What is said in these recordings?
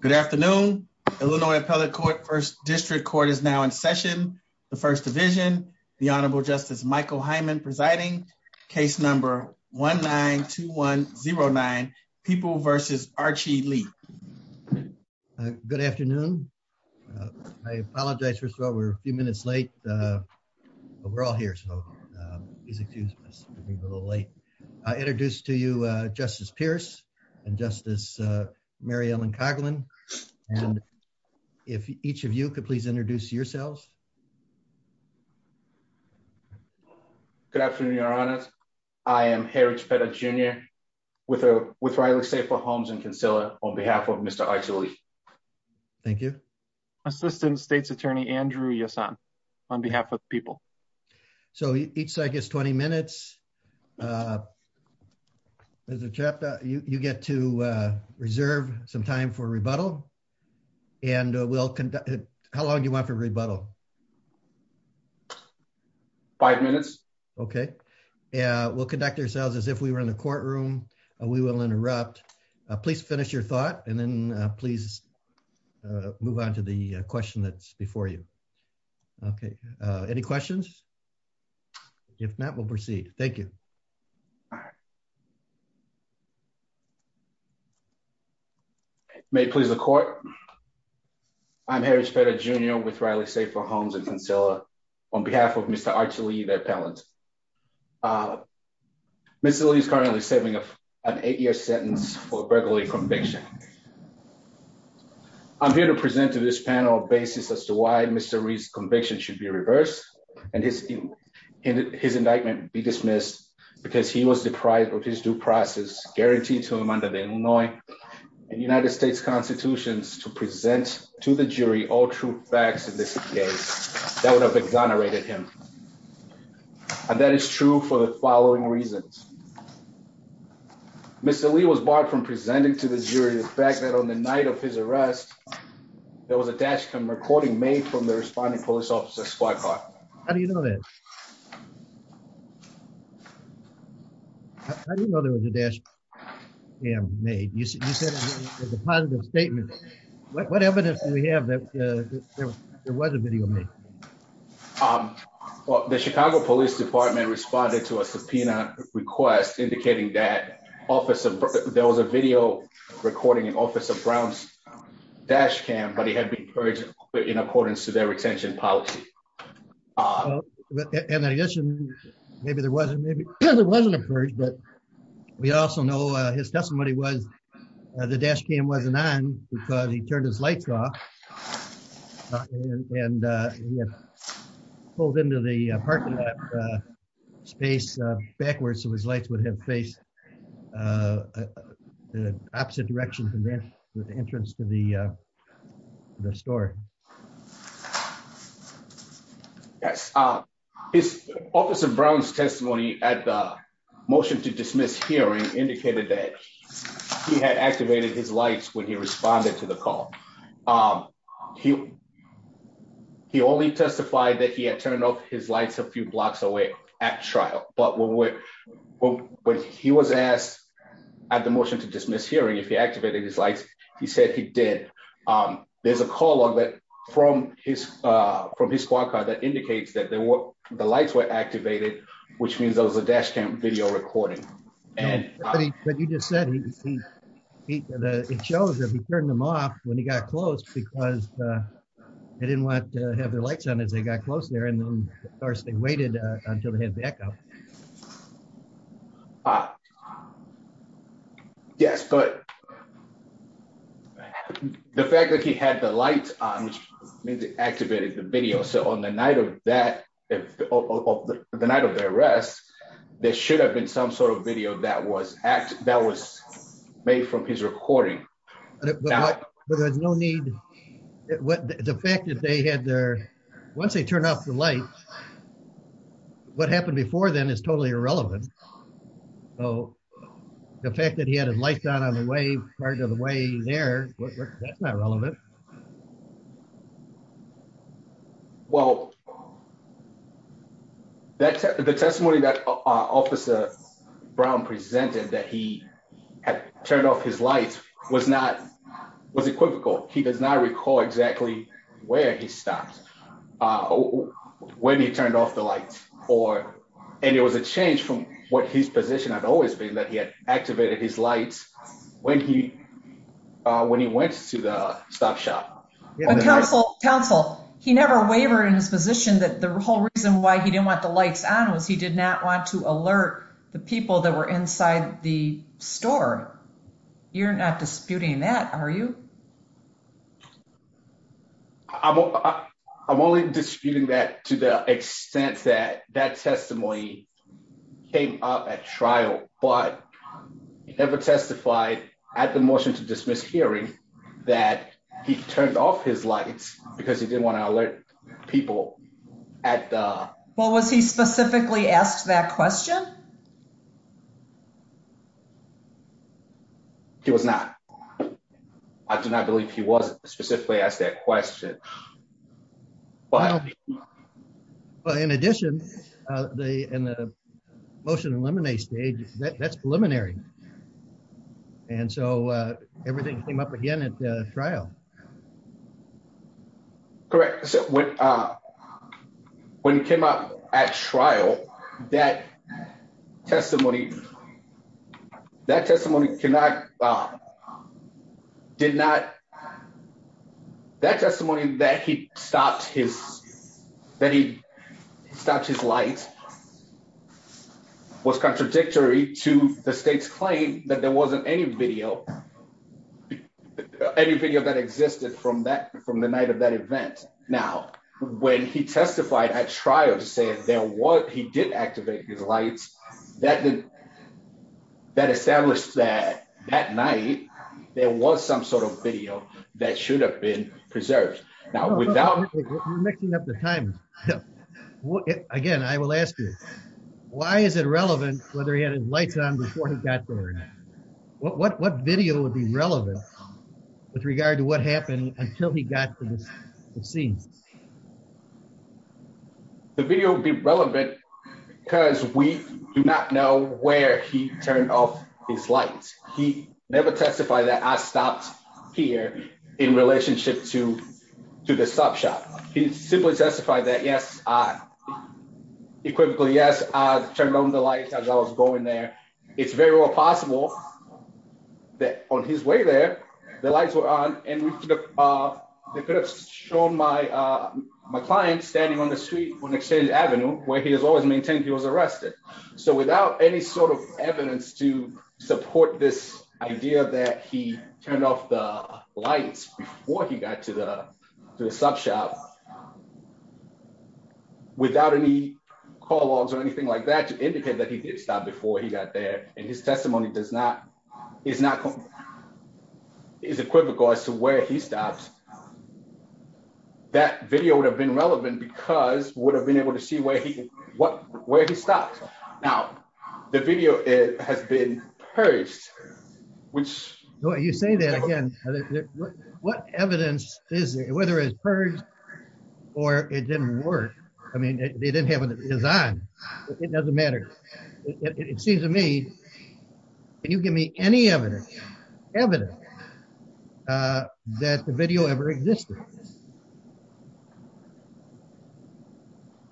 Good afternoon. Illinois Appellate Court First District Court is now in session. The First Division, the Honorable Justice Michael Hyman presiding. Case number 1-9-2-1-0-9, People v. Archie Lee. Good afternoon. I apologize, first of all, we're a few minutes late. But we're all here, so please excuse us for being a little late. I introduce to you Justice Pierce and Justice Mary Ellen Coghlan. If each of you could please introduce yourselves. Good afternoon, Your Honors. I am Herridge Petta, Jr. with Riley Staple Homes and Concealer on behalf of Mr. Archie Lee. Thank you. Assistant State's Attorney Andrew Yasan on behalf of the people. So each side gets 20 minutes. Mr. Chapta, you get to reserve some time for rebuttal. And we'll conduct, how long do you want for rebuttal? Five minutes. Okay. We'll conduct ourselves as if we were in the courtroom. We will interrupt. Please finish your thought and then please move on to the question that's before you. Okay. Any questions? If not, we'll proceed. Thank you. May it please the court. I'm Herridge Petta, Jr. with Riley Staple Homes and Concealer on behalf of Mr. Archie Lee, the appellant. Mr. Lee is currently saving an eight-year sentence for a burglary conviction. I'm here to present to this panel a basis as to why Mr. Lee's conviction should be reversed and his indictment be dismissed because he was deprived of his due process guaranteed to him under the Illinois and United States constitutions to present to the jury all true facts in this case that would have exonerated him. And that is true for the following reasons. Mr. Lee was barred from presenting to the jury the fact that on the night of his arrest, there was a dash cam recording made from the responding police officer's squad car. How do you know that? How do you know there was a dash cam made? You said it was a positive statement. What evidence do we have that there was a video made? Um, well, the Chicago Police Department responded to a subpoena request indicating that there was a video recording in Officer Brown's dash cam, but he had been purged in accordance to their retention policy. In addition, maybe there wasn't a purge, but we also know his testimony was the dash cam wasn't on because he turned his lights off and he had pulled into the parking lot space backwards so his lights would have faced the opposite direction from the entrance to the store. Yes, Officer Brown's testimony at the motion to dismiss hearing indicated that he had activated his lights when he responded to the call. He only testified that he had turned off his lights a few blocks away at trial. But when he was asked at the motion to dismiss hearing if he activated his lights, he said he did. There's a call log that from his squad car that indicates that the lights were activated, which means there was a dash cam video recording. And what you just said, it shows that he turned them off when he got close because they didn't want to have their lights on as they got close there and then first they waited until they had backup. Yes, but the fact that he had the lights on means he activated the video. So on the night of that, of the night of the arrest, there should have been some sort of video that was made from his recording. But there's no need, the fact that they had their, once they turn off the lights, what happened before then is totally irrelevant. So the fact that he had his lights on on the way, part of the way there, that's not relevant. Well, that's the testimony that officer Brown presented that he had turned off his lights was not was equivocal. He does not recall exactly where he stopped when he turned off the lights or, and it was a change from what his position had always been that he had activated his lights when he, when he went to the stop shop. Counsel, he never wavered in his position that the whole reason why he didn't want the lights on was he did not want to alert the people that were inside the store. You're not disputing that, are you? I'm only disputing that to the extent that that testimony came up at trial, but he never testified at the motion to dismiss hearing that he turned off his lights because he didn't want to alert people at the... Well, was he specifically asked that question? He was not. I do not believe he was specifically asked that question. Well, in addition, the, in the motion to eliminate stage, that's preliminary. And so everything came up again at the trial. Correct. When he came up at trial, that testimony, that testimony did not, that testimony that he stopped his, that he stopped his lights was contradictory to the state's claim that there wasn't any video, any video that existed from that, from the night of that event. Now, when he testified at trial saying there was, he did activate his lights, that did, that established that, that night there was some sort of video that should have been preserved. Now, without... Again, I will ask you, why is it relevant whether he had his lights on before he got there? What video would be relevant with regard to what happened until he got to the scene? The video would be relevant because we do not know where he turned off his lights. He never testified that I stopped here in relationship to, to the stop shot. He simply testified that, yes, I, equivocally, yes, I turned on the lights as I was going there. It's very well possible that on his way there, the lights were on and they could have shown my, my client standing on the street on Exchange Avenue, where he has always maintained he was arrested. So, without any sort of evidence to support this idea that he turned off the lights before he got to the, to the stop shot, without any call logs or anything like that to indicate that he did stop before he got there, and his testimony does not, is not, is equivocal as to where he stopped, that video would have been relevant because we would have been able to see where he, what, where he stopped. Now, the video has been purged, which... You say that again. What evidence is, whether it's purged or it didn't work? I mean, they didn't have a design. It doesn't matter. It seems to me, can you give me any evidence, evidence that the video ever existed?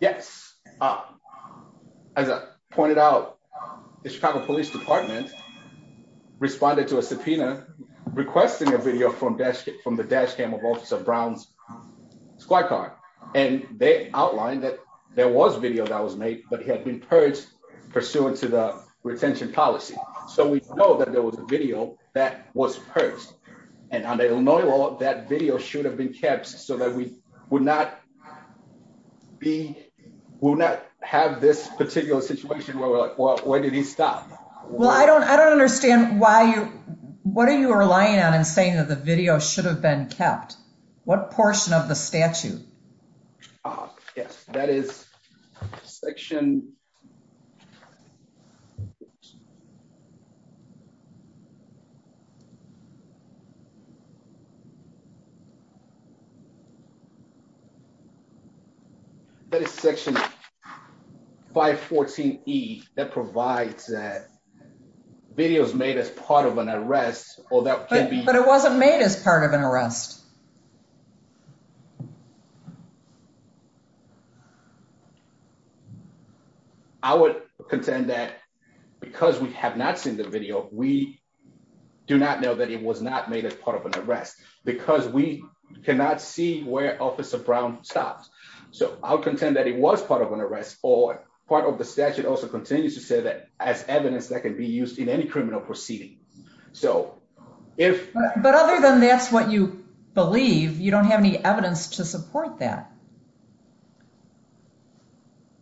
Yes. As I pointed out, the Chicago Police Department responded to a subpoena requesting a video from dash cam, from the dash cam of Officer Brown's squad car. And they outlined that there was video that was made, but he had been purged pursuant to the retention policy. So, we know that there was a video that was purged. And under Illinois law, that video should have been kept so that we would not have this particular situation where we're like, where did he stop? Well, I don't understand why you, what are you relying on in saying that the video should have been kept? What portion of the statute? Ah, yes. That is section... That is section 514E that provides that videos made as part of an arrest, or that can be... But it wasn't made as part of an arrest. I would contend that because we have not seen the video, we do not know that it was not made as part of an arrest because we cannot see where Officer Brown stops. So, I'll contend that it was part of an arrest or part of the statute also continues to say that as evidence that can be used in any criminal proceeding. So, if... But other than that's what you believe, you don't have any evidence to support that.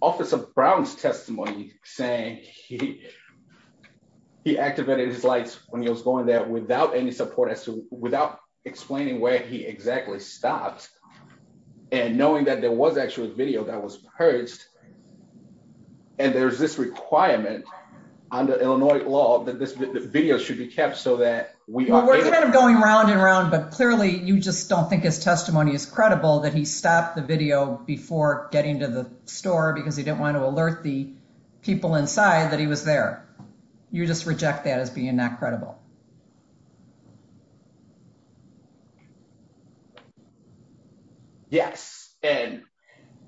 Officer Brown's testimony saying he activated his lights when he was going there without any support as to, without explaining where he exactly stopped and knowing that there was actually a video that was purged. And there's this requirement under Illinois law that this video should be kept so that we are... We're kind of going round and round, but clearly you just don't think his testimony is credible that he stopped the video before getting to the store because he didn't want to alert the people inside that he was there. You just reject that as being not credible. Yes. And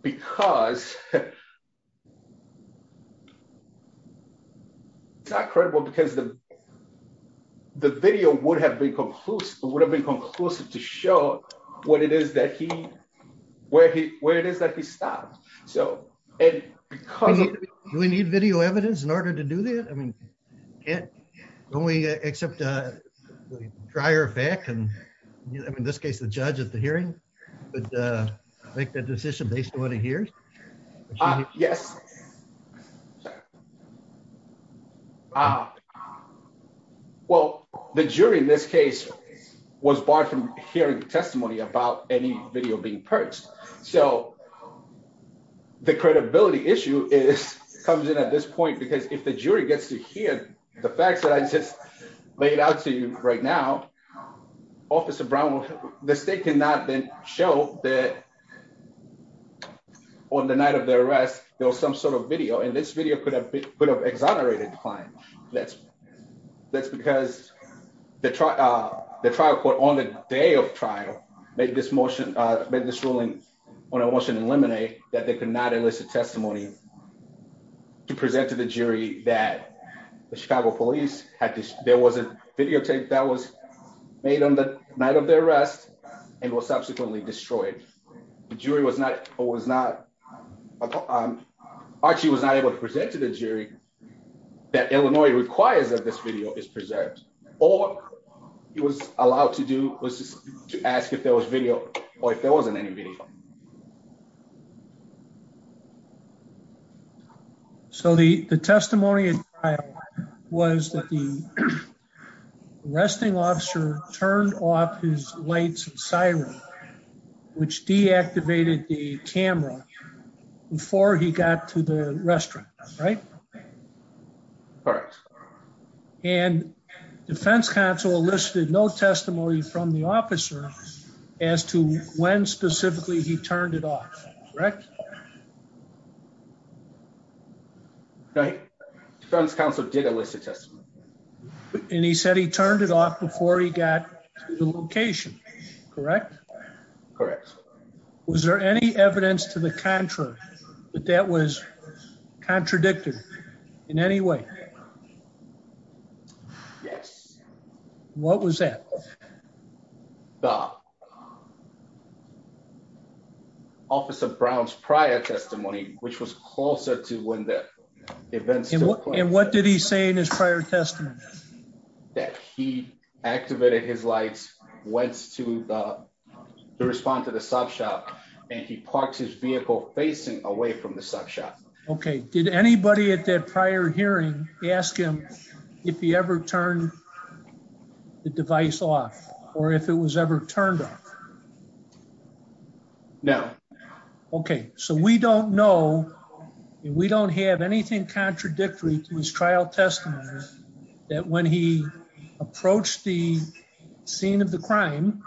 because... To show what it is that he... Where it is that he stopped. So, and because of... Do we need video evidence in order to do that? I mean, can't... When we accept a prior fact and in this case, the judge at the hearing would make that decision based on what he hears? Ah, yes. Well, the jury in this case was barred from hearing testimony about any video being purged. So, the credibility issue is, comes in at this point because if the jury gets to hear the facts that I just laid out to you right now, Officer Brown will... The state cannot then show that on the night of the arrest, there was some sort of video. And this video could have been... Could have exonerated the client. That's because the trial court on the day of trial made this motion... Made this ruling on a motion in limine that they could not elicit testimony to present to the jury that the Chicago police had... There was a videotape that was made on the night of the arrest and was subsequently destroyed. The jury was not... Archie was not able to present to the jury that Illinois requires that this video is preserved. All he was allowed to do was to ask if there was video or if there wasn't any video. So, the testimony at trial was that the arresting officer turned off his lights and siren, which deactivated the camera before he got to the restaurant, right? Correct. And defense counsel elicited no testimony from the officer as to when specifically he turned it off, correct? Right. Defense counsel did elicit testimony. And he said he turned it off before he got to the location, correct? Correct. Was there any evidence to the contrary that that was contradicted in any way? Yes. What was that? The officer Brown's prior testimony, which was closer to when the events took place. And what did he say in his prior testimony? That he activated his lights, went to respond to the sub shop, and he parked his vehicle facing away from the sub shop. Okay. Did anybody at that prior hearing ask him if he ever turned the device off or if it was ever turned off? No. Okay. So, we don't know and we don't have anything contradictory to his trial testimony that when he approached the scene of the crime,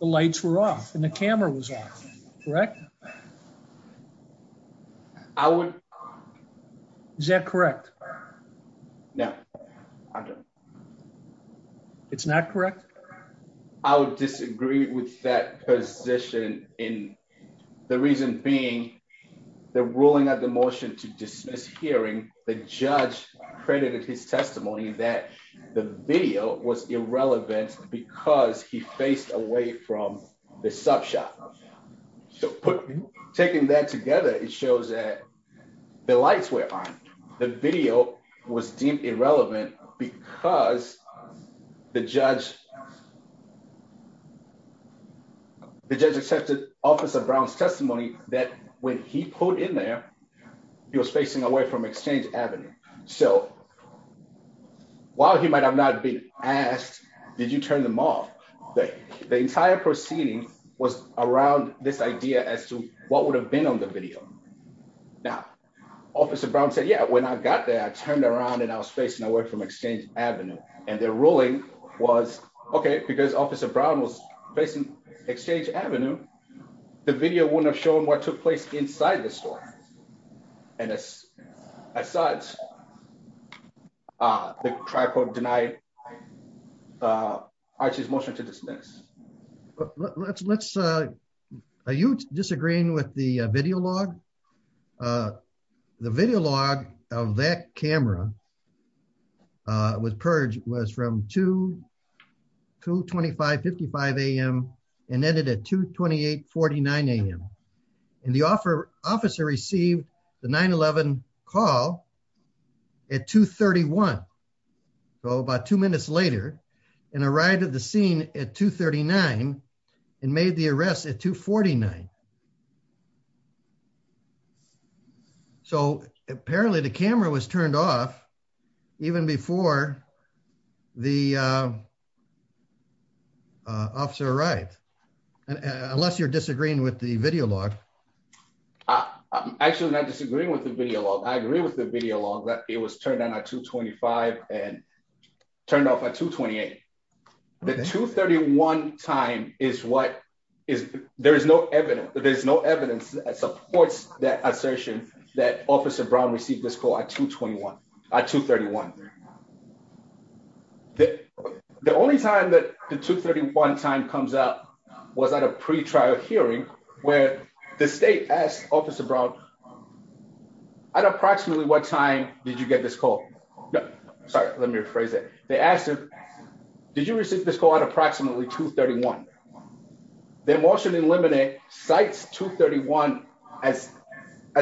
the lights were off and the camera was off, correct? I would... Is that correct? No. It's not correct? I would disagree with that position in the reason being the ruling of the motion to dismiss hearing the judge credited his testimony that the video was irrelevant because he faced away from the sub shop. So, taking that together, it shows that the lights were on. The video was deemed irrelevant because the judge accepted officer Brown's testimony that when he pulled in there, he was facing away from Exchange Avenue. So, while he might have not been asked, did you turn them off? The entire proceeding was around this idea as to what would have been on the video. Now, officer Brown said, yeah, when I got there, I turned around and I was facing away from Exchange Avenue. And their ruling was, okay, because officer Brown was facing Exchange Avenue, the video wouldn't have shown what took place inside the store. And as such, the tripod denied Archie's motion to dismiss. Let's... Are you disagreeing with the video log? The video log of that camera with Purge was from 2, 25, 55 AM and ended at 2, 28, 49 AM. And the officer received the 9-11 call at 2, 31. So, about two minutes later and arrived at the scene at 2, 39 and made the arrest at 2, 49. So, apparently the camera was turned off even before the officer arrived. Unless you're disagreeing with the video log. I'm actually not disagreeing with the video log. I agree with the video log that it was turned on at 2, 25 and turned off at 2, 28. The 2, 31 time is what is... There is no evidence that supports that assertion that officer Brown received this at 2, 31. The only time that the 2, 31 time comes up was at a pre-trial hearing where the state asked officer Brown, at approximately what time did you get this call? Sorry, let me rephrase it. They asked him, did you receive this call at approximately 2, 31? Their motion to eliminate sites 2, 31 as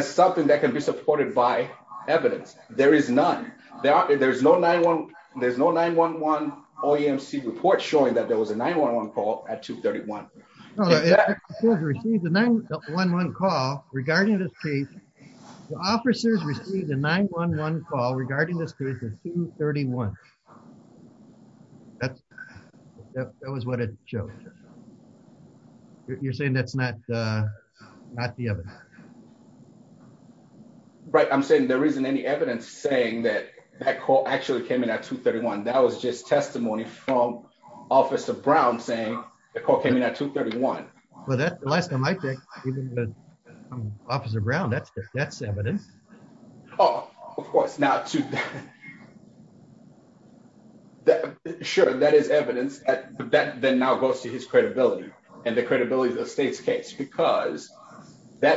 something that can be supported by evidence. There is none. There's no 9-1-1 OEMC report showing that there was a 9-1-1 call at 2, 31. No, the officers received a 9-1-1 call regarding this case at 2, 31. That was what it showed. You're saying that's not the evidence? Right. I'm saying there isn't any evidence saying that that call actually came in at 2, 31. That was just testimony from officer Brown saying the call came in at 2, 31. Well, the last time I checked, even with officer Brown, that's evidence. Oh, of course. Sure, that is evidence that then now goes to his credibility and the credibility of the state's case because the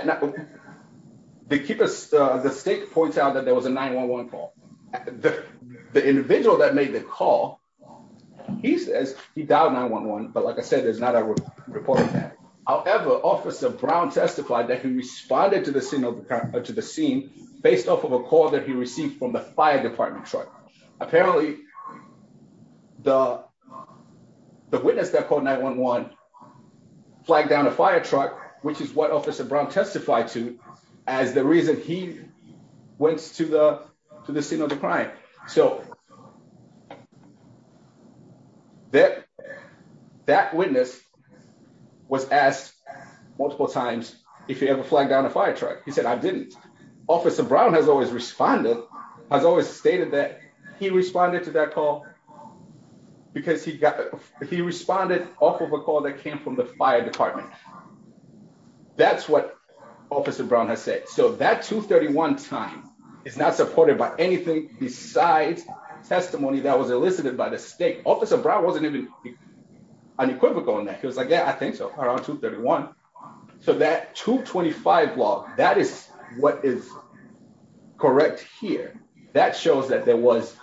state points out that there was a 9-1-1 call. The individual that made the call, he says he dialed 9-1-1, but like I said, there's not a report of that. However, officer Brown testified that he responded to the scene based off of a call that he received from the fire department truck. Apparently, the witness that called 9-1-1 flagged down a fire truck, which is what officer Brown testified to as the reason he went to the scene of the crime. So, that witness was asked multiple times if he ever flagged down a fire truck. He said, I didn't. Officer Brown has always responded, has always stated that he responded to that call because he responded off of a call that came from the fire department. That's what officer Brown has said. So, that 2, 31 time is not supported by anything besides testimony that was elicited by the state. Officer Brown wasn't even unequivocal on that. He was like, yeah, I think so, around 2, 31. So, that 2, 25 log, that is what is correct here. That shows that there was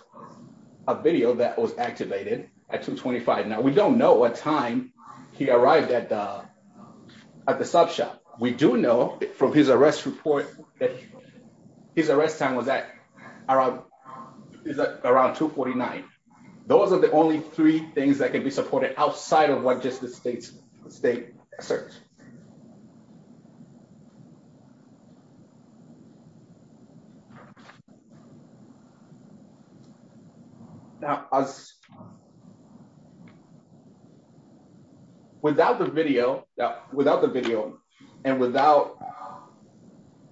a video that was activated at 2, 25. Now, we don't know what time he arrived at the sub shop. We do know from his arrest report that his arrest time was at around 2, 49. Those are the only three things that can be supported outside of what just the state asserts. Now, without the video and without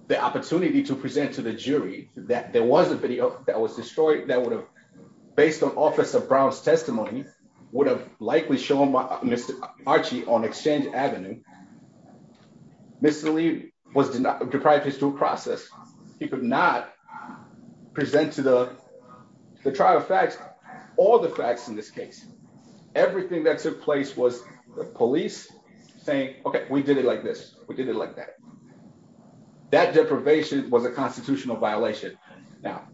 the opportunity to present to the jury that there was a video that was destroyed that would have, based on officer Brown's testimony, would have likely shown Mr. Archie on Exchange Avenue. Mr. Lee was deprived of his due process. He could not present to the trial facts, all the facts in this case. Everything that took place was the police saying, okay, we did it like this. We did it like that. That deprivation was a constitutional violation. Now,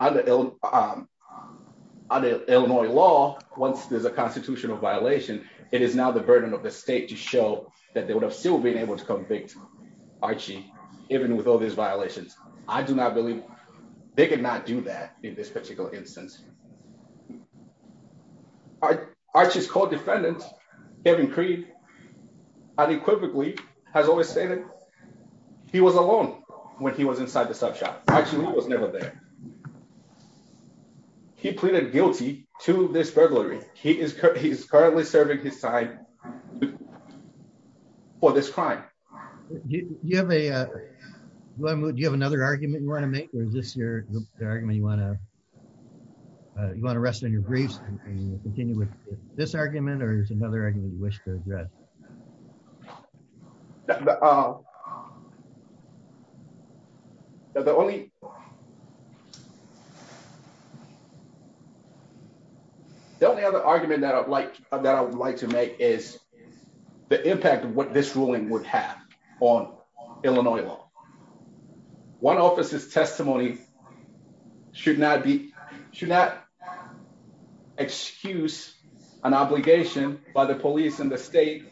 under Illinois law, once there's a constitutional violation, it is now the burden of the state to show that they would have still been able to convict Archie, even with all these violations. I do not believe they could not do that in this particular instance. Archie's co-defendant, Kevin Creed, unequivocally has always stated he was alone. When he was inside the sub shop, Archie Lee was never there. He pleaded guilty to this burglary. He is currently serving his time for this crime. Do you have another argument you want to make or is this the argument you want to rest in your griefs and continue with this argument or is another argument you wish to address? The only other argument that I would like to make is the impact of what this ruling would have on Illinois law. One officer's testimony should not excuse an obligation by the police and the state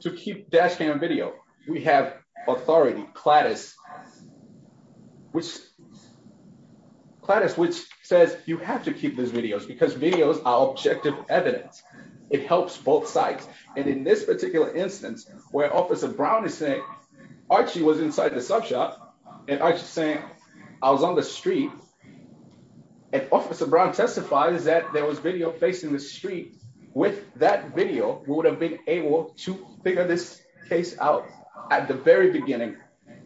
to keep dash cam video. We have authority, CLADIS, which says you have to keep these videos because videos are objective evidence. It helps both sides. In this particular instance, where Officer Brown is saying Archie was inside the sub shop and Archie is saying I was on the street, and Officer Brown testifies that there was video facing the street. With that video, we would have been able to figure this case out at the very beginning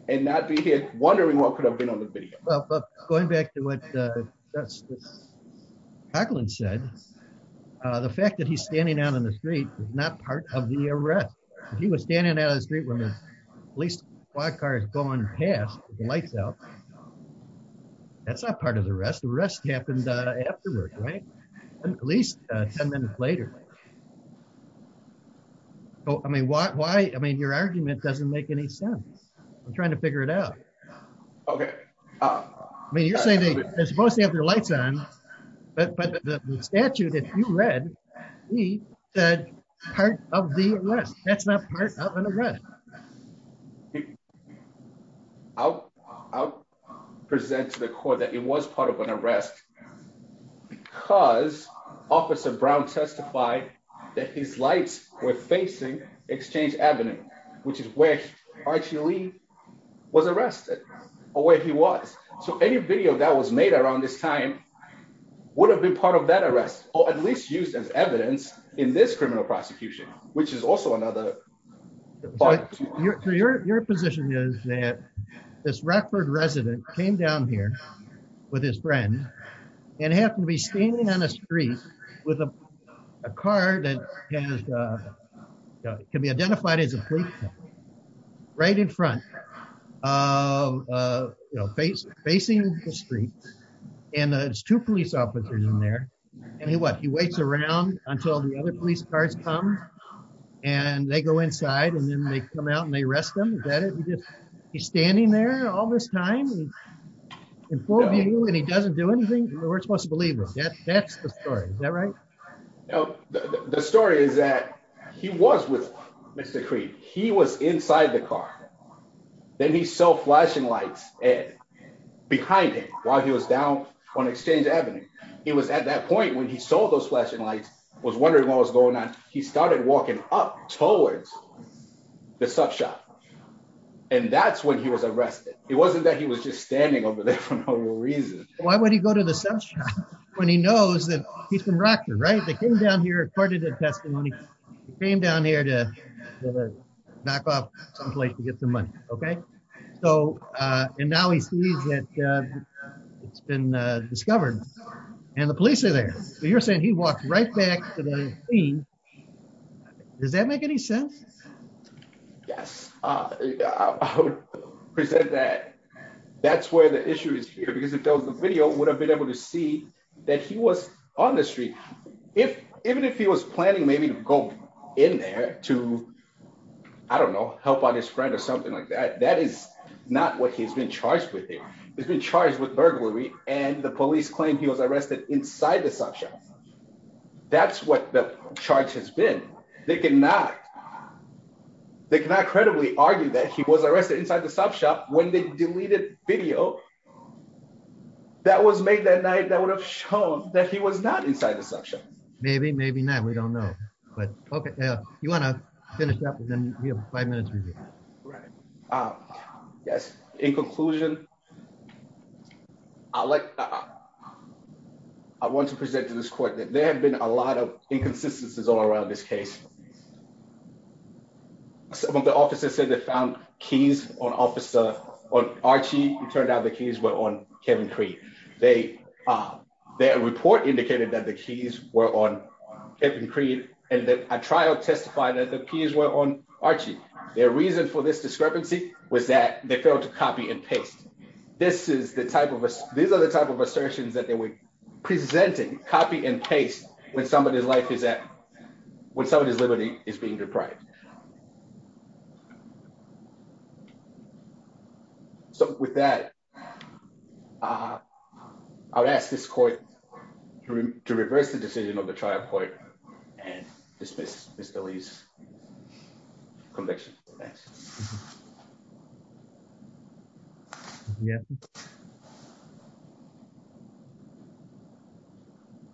and not be here wondering what could have been on the video. But going back to what Jacqueline said, the fact that he's standing out on the street is not part of the arrest. If he was standing out on the street when the police squad car is going past with the lights out, that's not part of the arrest. The arrest happened afterwards, right? At least 10 minutes later. I mean, your argument doesn't make any sense. I'm trying to figure it out. You're saying they're supposed to have their lights on, but the statute that you read said part of the arrest. That's not part of an arrest. I'll present to the court that it was part of an arrest because Officer Brown testified that his lights were facing Exchange Avenue, which is where Archie Lee was arrested, or where he was. So any video that was made around this time would have been part of that arrest, or at least used as evidence in this criminal prosecution, which is also another part of the case. Your position is that this Rockford resident came down here with his friend and happened to be standing on a street with a car that can be identified as a police car, right in front, uh, you know, facing the street, and there's two police officers in there, and what, he waits around until the other police cars come, and they go inside, and then they come out, and they arrest him. Is that it? He's standing there all this time in full view, and he doesn't do anything? We're supposed to believe him. That's the story. Is that right? No, the story is that he was with them. He saw flashing lights behind him while he was down on Exchange Avenue. He was at that point when he saw those flashing lights, was wondering what was going on. He started walking up towards the sub shop, and that's when he was arrested. It wasn't that he was just standing over there for no real reason. Why would he go to the sub shop when he knows that he's from Rockford, right? They came down here according to testimony. They came down here to knock off someplace to get some money, okay? So, uh, and now he sees that, uh, it's been, uh, discovered, and the police are there. You're saying he walked right back to the scene. Does that make any sense? Yes, uh, I would present that that's where the issue is here, because if there was a video, we would have been able to see that he was on the street. If, even he was planning maybe to go in there to, I don't know, help out his friend or something like that, that is not what he's been charged with here. He's been charged with burglary, and the police claim he was arrested inside the sub shop. That's what the charge has been. They cannot, they cannot credibly argue that he was arrested inside the sub shop when they deleted video that was made that night that would have shown that he was not inside the sub shop. Maybe, maybe not. We don't know, but okay, you want to finish up and then we have five minutes. Right, uh, yes. In conclusion, I like, I want to present to this court that there have been a lot of inconsistencies all around this case. Some of the officers said they found keys on officer, on Archie. It turned out the keys were on Kevin Cree. They, uh, their report indicated that the keys were on Kevin Cree and that a trial testified that the keys were on Archie. Their reason for this discrepancy was that they failed to copy and paste. This is the type of, these are the type of assertions that they were presenting, copy and paste, when somebody's life is at, when somebody's is being deprived. So with that, uh, I would ask this court to reverse the decision on the trial court and dismiss Mr. Lee's conviction. Thanks. Yeah.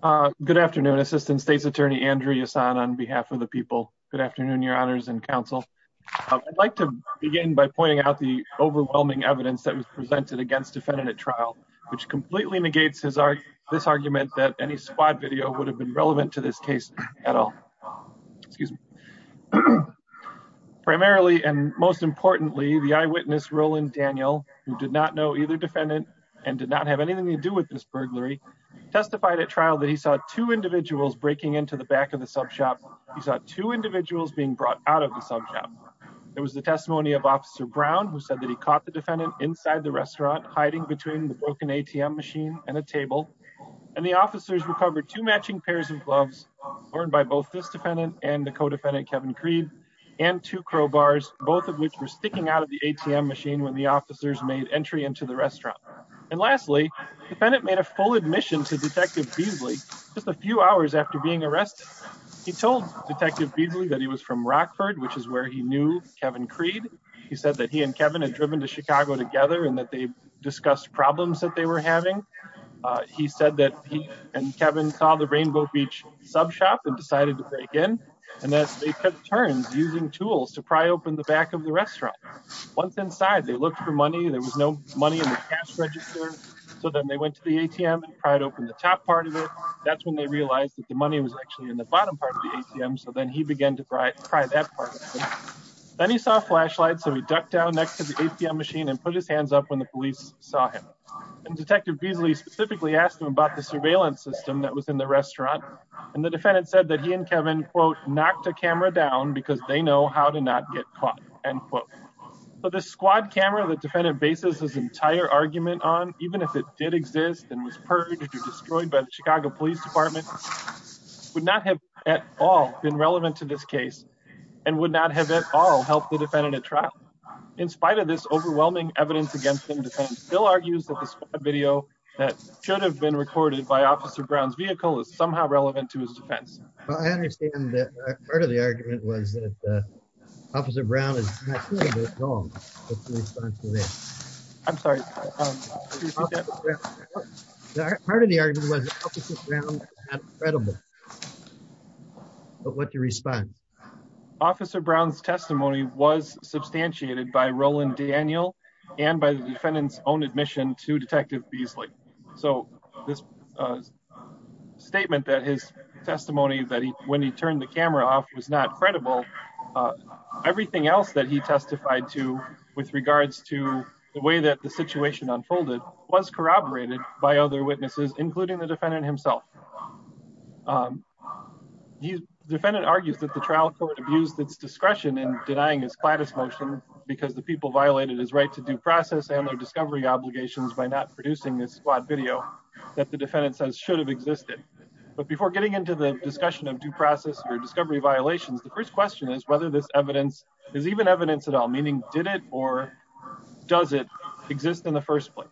Uh, good afternoon, assistant state's attorney, Andrew Yasson on behalf of the people. Good afternoon, your honors and counsel. I'd like to begin by pointing out the overwhelming evidence that was presented against defendant at trial, which completely negates his art, this argument that any squad video would have been relevant to this case at all. Excuse me. Primarily and most importantly, the eyewitness Roland Daniel, who did not know either defendant and did not have anything to do with this burglary testified at trial that he saw two individuals breaking into the back of the sub shop. He's got two individuals being brought out of the sub shop. It was the testimony of officer Brown, who said that he caught the defendant inside the restaurant, hiding between the broken ATM machine and the table. And the officers recovered two matching pairs of gloves learned by both this defendant and the co-defendant, Kevin Cree and two crowbars, both of which were sticking out of the ATM machine when the officers made entry into the restaurant. And lastly, defendant made a full admission to detective Beasley just a few hours after being arrested. He told detective Beasley that he was from Rockford, which is where he knew Kevin Creed. He said that he and Kevin had driven to Chicago together and that they discussed problems that they were having. Uh, he said that he and Kevin saw the rainbow beach sub shop and decided to pry open the back of the restaurant. Once inside, they looked for money. There was no money in the cash register. So then they went to the ATM and tried to open the top part of it. That's when they realized that the money was actually in the bottom part of the ATM. So then he began to pry, pry that part. Then he saw a flashlight. So he ducked down next to the ATM machine and put his hands up when the police saw him. And detective Beasley specifically asked him about the surveillance system that was in the restaurant. And the defendant said that he and Kevin quote, knocked a camera down because they know how to not get caught, end quote. But the squad camera that defendant bases his entire argument on, even if it did exist and was purged or destroyed by the Chicago police department, would not have at all been relevant to this case and would not have at all helped the defendant at trial. In spite of this overwhelming evidence against him, defense still argues that this video that should have been recorded by officer Brown's vehicle is somehow the argument was that officer Brown is wrong. I'm sorry. Part of the argument was credible, but what's your response? Officer Brown's testimony was substantiated by Roland Daniel and by the defendant's own admission to detective Beasley. So this statement that his testimony that he, when he turned the camera off was not credible, everything else that he testified to with regards to the way that the situation unfolded was corroborated by other witnesses, including the defendant himself. Defendant argues that the trial court abused its discretion in denying his cladis motion because the people violated his right to due process and their discovery obligations by not producing this squad video that the defendant says should have existed. But before getting into the discussion of due process or discovery violations, the first question is whether this evidence is even evidence at all, meaning did it, or does it exist in the first place?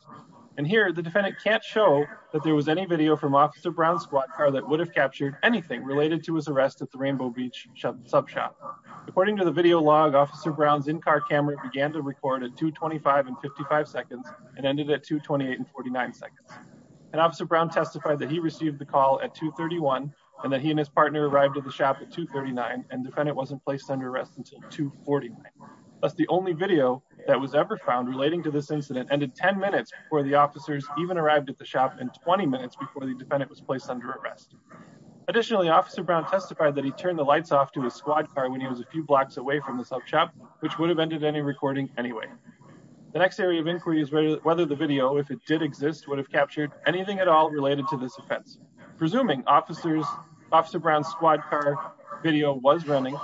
And here the defendant can't show that there was any video from officer Brown's squad car that would have captured anything related to his arrest at the rainbow beach sub shop. According to the video log, officer Brown's in-car camera began to record at 225 and 55 seconds and ended at 228 and 49 seconds. And officer Brown testified that he received the call at 231 and that he and his partner arrived at the shop at 239 and defendant wasn't placed under arrest until 240. That's the only video that was ever found relating to this incident ended 10 minutes before the officers even arrived at the shop in 20 minutes before the defendant was placed under arrest. Additionally, officer Brown testified that he turned the lights off to his squad car when he was a few blocks away from the sub shop, which would have ended any recording anyway. The next area of inquiry is whether the video, if it did exist, would have captured anything at all related to this offense. Presuming officer Brown's squad car video was running,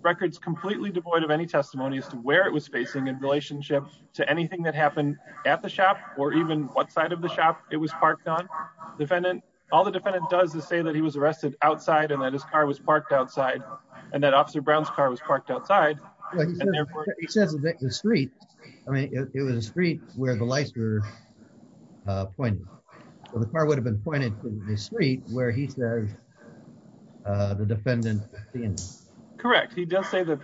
records completely devoid of any testimony as to where it was facing in relationship to anything that happened at the shop or even what side of the shop it was parked on, defendant, all the defendant does is say that he was arrested outside and that his car was in the street. I mean, it was a street where the lights were pointed. The car would have been pointed to the street where he said the defendant. Correct. He does say that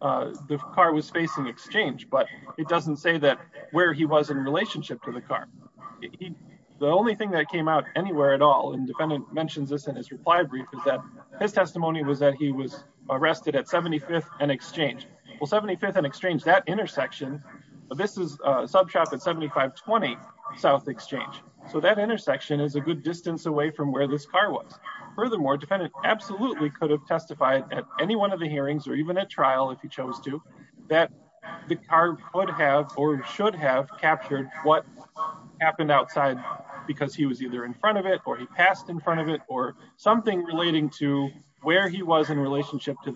the car was facing exchange, but it doesn't say that where he was in relationship to the car. The only thing that came out anywhere at all and defendant mentions this in his reply brief is that his testimony was that he was arrested at 75th and exchange. Well, 75th and exchange that intersection. This is a sub shop at 7520 south exchange. So that intersection is a good distance away from where this car was. Furthermore, defendant absolutely could have testified at any one of the hearings or even at trial if he chose to that the car would have or should have captured what happened outside because he was either in front of it or he passed in front of it or something relating to where he was in relationship to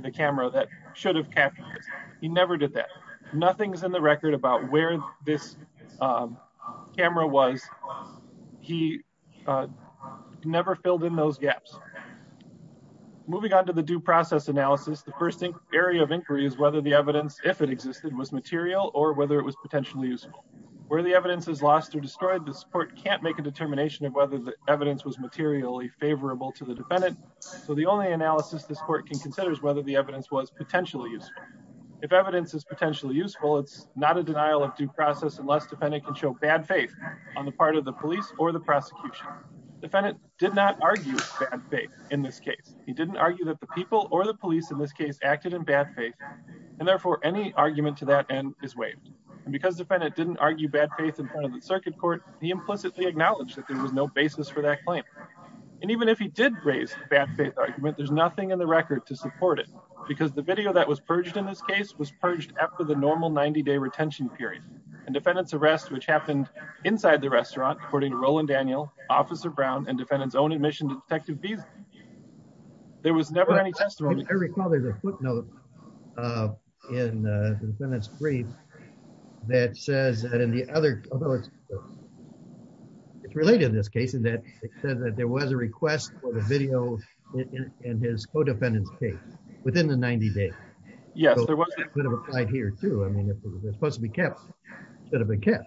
the camera that should have captured this. He never did that. Nothing's in the record about where this camera was. He never filled in those gaps. Moving on to the due process analysis. The first area of inquiry is whether the evidence, if it existed, was material or whether it was potentially useful. Where the evidence is lost or destroyed, this court can't make a determination of whether the evidence was materially favorable to the defendant. So the only analysis this court can consider is whether the evidence was potentially useful. If evidence is potentially useful, it's not a denial of due process unless defendant can show bad faith on the part of the police or the prosecution. Defendant did not argue bad faith in this case. He didn't argue that the people or the police in this case acted in bad faith and therefore any argument to that end is waived. And because defendant didn't argue bad faith in front of the circuit court, he implicitly acknowledged that there was no basis for that claim. And even if he did raise bad faith argument, there's nothing in the record to support it because the video that was purged in this case was purged after the normal 90-day retention period. And defendant's arrest, which happened inside the restaurant, according to Roland Daniel, Officer Brown, and defendant's own admission to Detective Beasley, there was never any testimony. I recall there's a footnote in the defendant's brief that says that in the other, although it's related in this case, in that it says that there was a request for the video in his co-defendant's case within the 90-day. So that could have applied here too. I mean, if it was supposed to be kept, it should have been kept.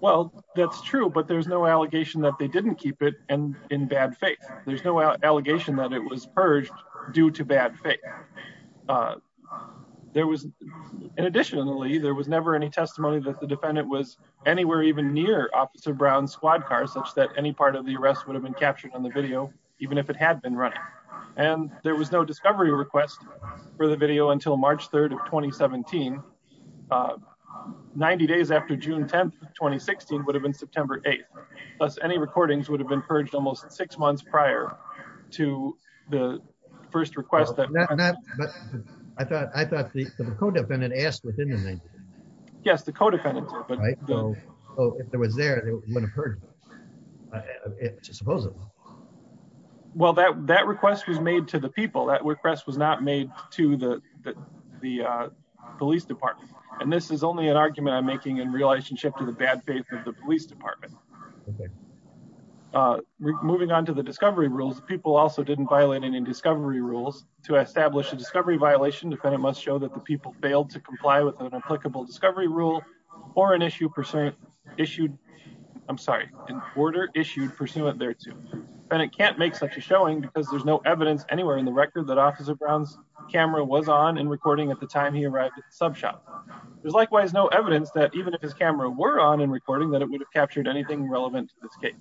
Well, that's true, but there's no allegation that they didn't keep it in bad faith. There's no allegation that it was purged due to bad faith. Additionally, there was never any testimony that the defendant was anywhere even near Officer Brown's squad car such that any part of the arrest would have been captured on the video, even if it had been running. And there was no discovery request for the video until March 3rd of 2017, 90 days after June 10th, 2016, would have been September 8th. Thus, any recordings would have been purged almost six months prior to the first request that... But I thought the co-defendant asked within the... Yes, the co-defendant did. Oh, if it was there, it wouldn't have purged. It's a supposable. Well, that request was made to the people. That request was not made to the police department. And this is only an argument I'm making in relationship to the bad faith of the police department. Moving on to the discovery rules, people also didn't violate any discovery rules. To establish a discovery violation, defendant must show that the people failed to comply with an applicable discovery rule or an issue pursuant issued... I'm sorry, an order issued pursuant thereto. Defendant can't make such a showing because there's no evidence anywhere in the record that Officer Brown's camera was on and recording at the time he arrived at the sub shop. There's likewise no evidence that even if his camera were on and recording that it would have captured anything relevant to this case.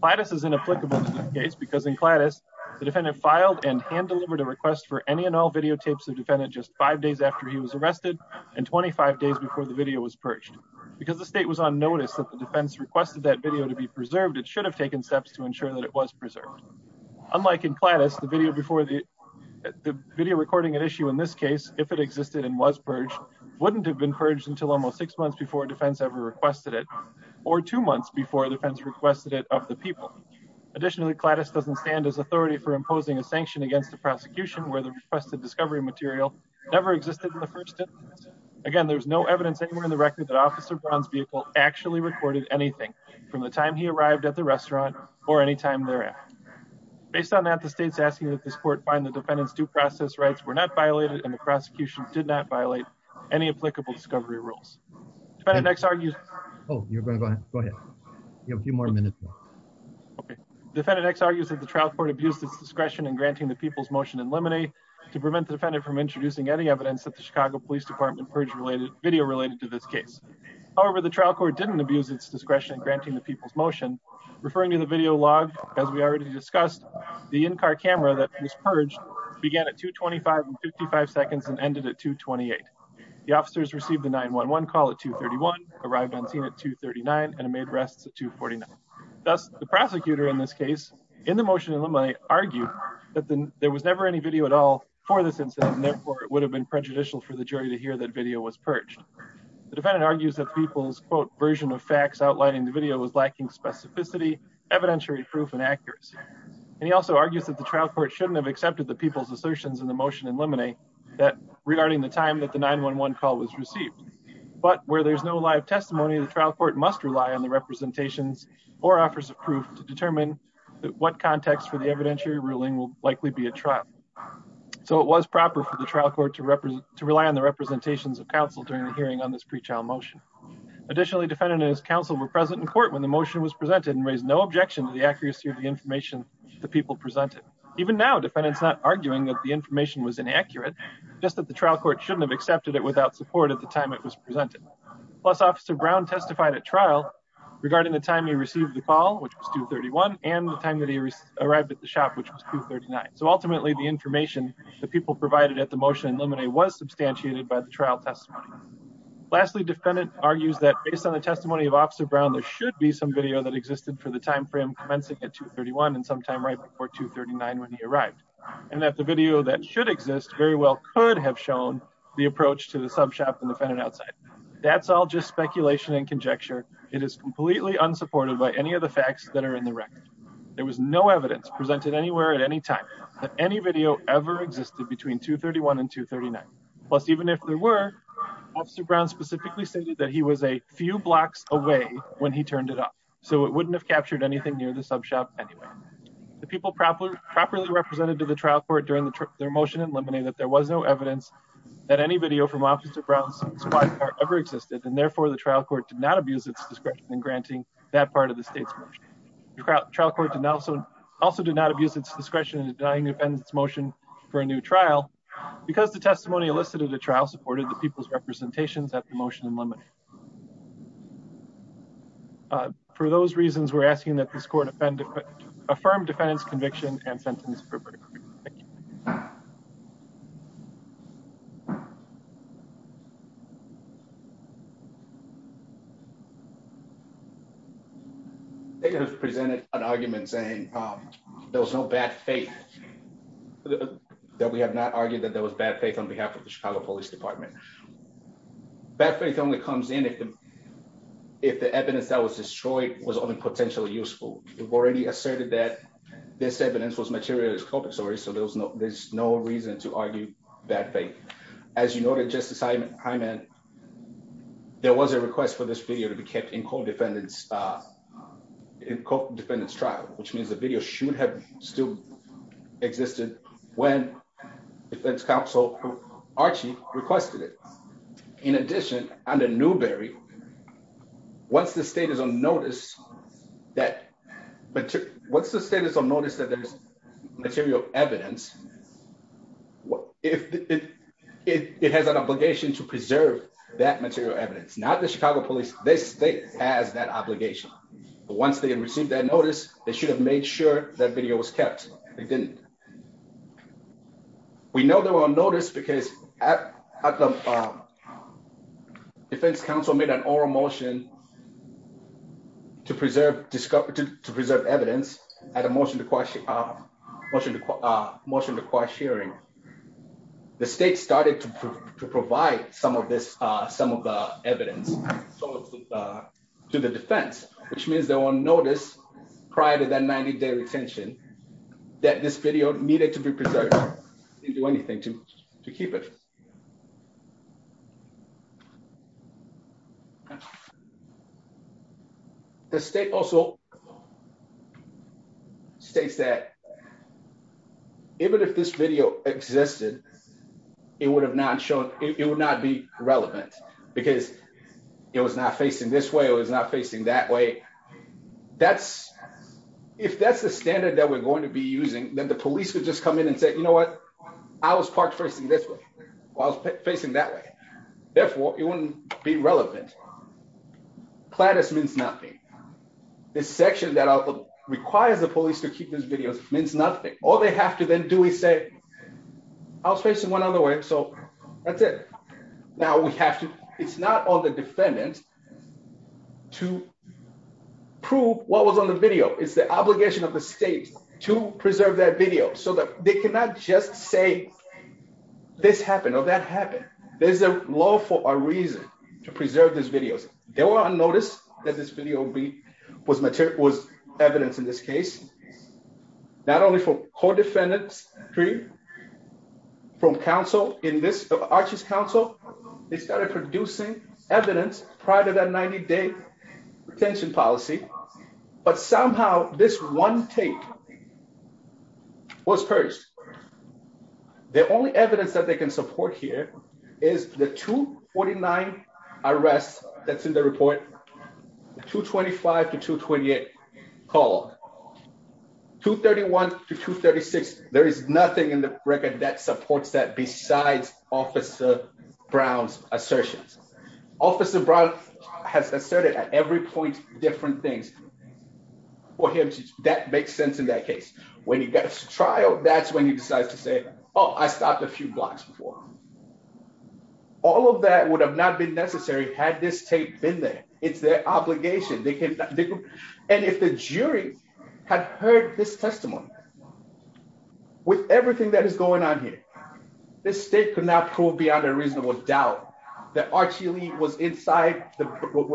Cladis is inapplicable to this case because in Cladis, the defendant filed and hand-delivered a request for any and all videotapes of defendant just five days after he was arrested and 25 days before the video was purged. Because the state was on notice that the defense requested that video to be preserved, it should have taken steps to ensure that it was preserved. Unlike in Cladis, the video recording at issue in this case, if it existed and was purged, wouldn't have been purged until almost six months before defense ever requested it or two months before defense requested it of the people. Additionally, Cladis doesn't stand as authority for imposing a sanction against the prosecution where the requested discovery material never existed in the first instance. Again, there's no evidence anywhere in the record that Officer Brown's vehicle actually recorded anything from the time he arrived at the restaurant or any time thereafter. Based on that, the state's asking that this court find the defendant's due process rights were not violated and the prosecution did not violate any applicable discovery rules. Defendant X argues... Oh, you're going to go ahead. Go ahead. You have a few more minutes. Okay. Defendant X argues that the trial court abused its discretion in granting the people's motion, referring to the video log, as we already discussed, the in-car camera that was purged began at 2.25 and 55 seconds and ended at 2.28. The officers received the 911 call at 2.31, arrived on scene at 2.39, and made arrests at 2.49. Thus, the prosecutor in this case, in the motion of the money, argued that there was never any video at all for this incident, and therefore, it would have been prejudicial for the jury to hear that video was purged. The defendant argues that people's, quote, version of facts outlining the video was lacking specificity, evidentiary proof, and accuracy. And he also argues that the trial court shouldn't have accepted the people's assertions in the motion in limine, that regarding the time that the 911 call was received, but where there's no live testimony, the trial court must rely on the representations or offers of proof to determine what context for the evidentiary ruling will likely be a trial. So, it was proper for the trial court to represent, to rely on the representations of counsel during the hearing on this pre-trial motion. Additionally, defendant and his counsel were present in court when the motion was presented and raised no objection to the accuracy of the information the people presented. Even now, defendant's not arguing that the information was inaccurate, just that the trial court shouldn't have accepted it without support at the time it was presented. Plus, Officer Brown testified at trial regarding the time he received the call, which was 2.31, and the time that he arrived at the shop, which was 2.39. So, ultimately, the information the people provided at the motion in limine was substantiated by the trial testimony. Lastly, defendant argues that based on the testimony of Officer Brown, there should be some video that existed for the time frame commencing at 2.31 and sometime right before 2.39 when he arrived, and that the video that should exist very well could have shown the approach to the sub shop and defendant outside. That's all just speculation and conjecture. It is completely unsupported by any of the facts that are in the motion. There was no evidence presented anywhere at any time that any video ever existed between 2.31 and 2.39. Plus, even if there were, Officer Brown specifically stated that he was a few blocks away when he turned it up, so it wouldn't have captured anything near the sub shop anyway. The people properly represented to the trial court during their motion in limine that there was no evidence that any video from Officer Brown's squad car ever existed, and therefore, the trial court did not abuse its discretion in granting that part of the state's motion. The trial court also did not abuse its discretion in denying the defendant's motion for a new trial because the testimony elicited at the trial supported the people's representations at the motion in limine. For those reasons, we're asking that this court affirm defendant's conviction and sentence appropriately. Thank you. They have presented an argument saying there was no bad faith, that we have not argued that there was bad faith on behalf of the Chicago Police Department. Bad faith only comes in if the evidence that was destroyed was only potentially useful. We've already asserted that this evidence was materialized, so there's no reason to argue bad faith. As you noted, Justice Hyman, there was a request for this video to be kept in defendant's trial, which means the video should have still existed when the defense counsel, Archie, requested it. In addition, under Newberry, once the state is on notice that there's material evidence, it has an obligation to preserve that material evidence. Not the Chicago Police, this state has that obligation. Once they had received that notice, they should have made sure that video was kept. They didn't. We know they were on notice because the defense counsel made an oral motion to preserve evidence at a motion to quash hearing. The state started to provide some of the evidence to the defense, which means they were on notice prior to that 90-day retention that this video needed to be preserved. They didn't do anything to keep it. The state also states that even if this video existed, it would not be relevant because it was not facing this way or it was not facing that way. If that's the standard that we're going to be using, then the police would just come in and say, you know what? I was parked facing this way or I was facing that way. Therefore, it wouldn't be relevant. Claddus means nothing. This section that requires the police to keep this video means nothing. All they have to then do is say, I was facing one other way, so that's it. Now, it's not on the defendant to prove what was on the video. It's the obligation of the state to preserve that video so that they cannot just say this happened or that happened. There's a law for a reason to preserve these videos. They were on notice that this video was evidence in this case, not only for co-defendants from Arches Council. They started producing evidence prior to that 90-day retention policy, but somehow this one tape was purged. The only evidence that they can support here is the 249 arrests that's in the report, 225 to 228 call. 231 to 236, there is nothing in the record that supports that besides Officer Brown's assertions. Officer Brown has asserted at every point different things. For him, that makes sense in that case. When he gets to trial, that's when he decides to say, oh, I stopped a few blocks before. All of that would have not been necessary had this tape been there. It's their obligation. If the jury had heard this testimony with everything that is going on here, the state could not prove beyond a reasonable doubt that Archie Lee was inside the courtroom.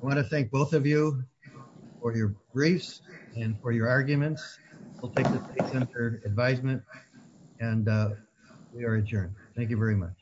I want to thank both of you for your briefs and for your arguments. We'll take the state-centered advisement, and we are adjourned. Thank you very much.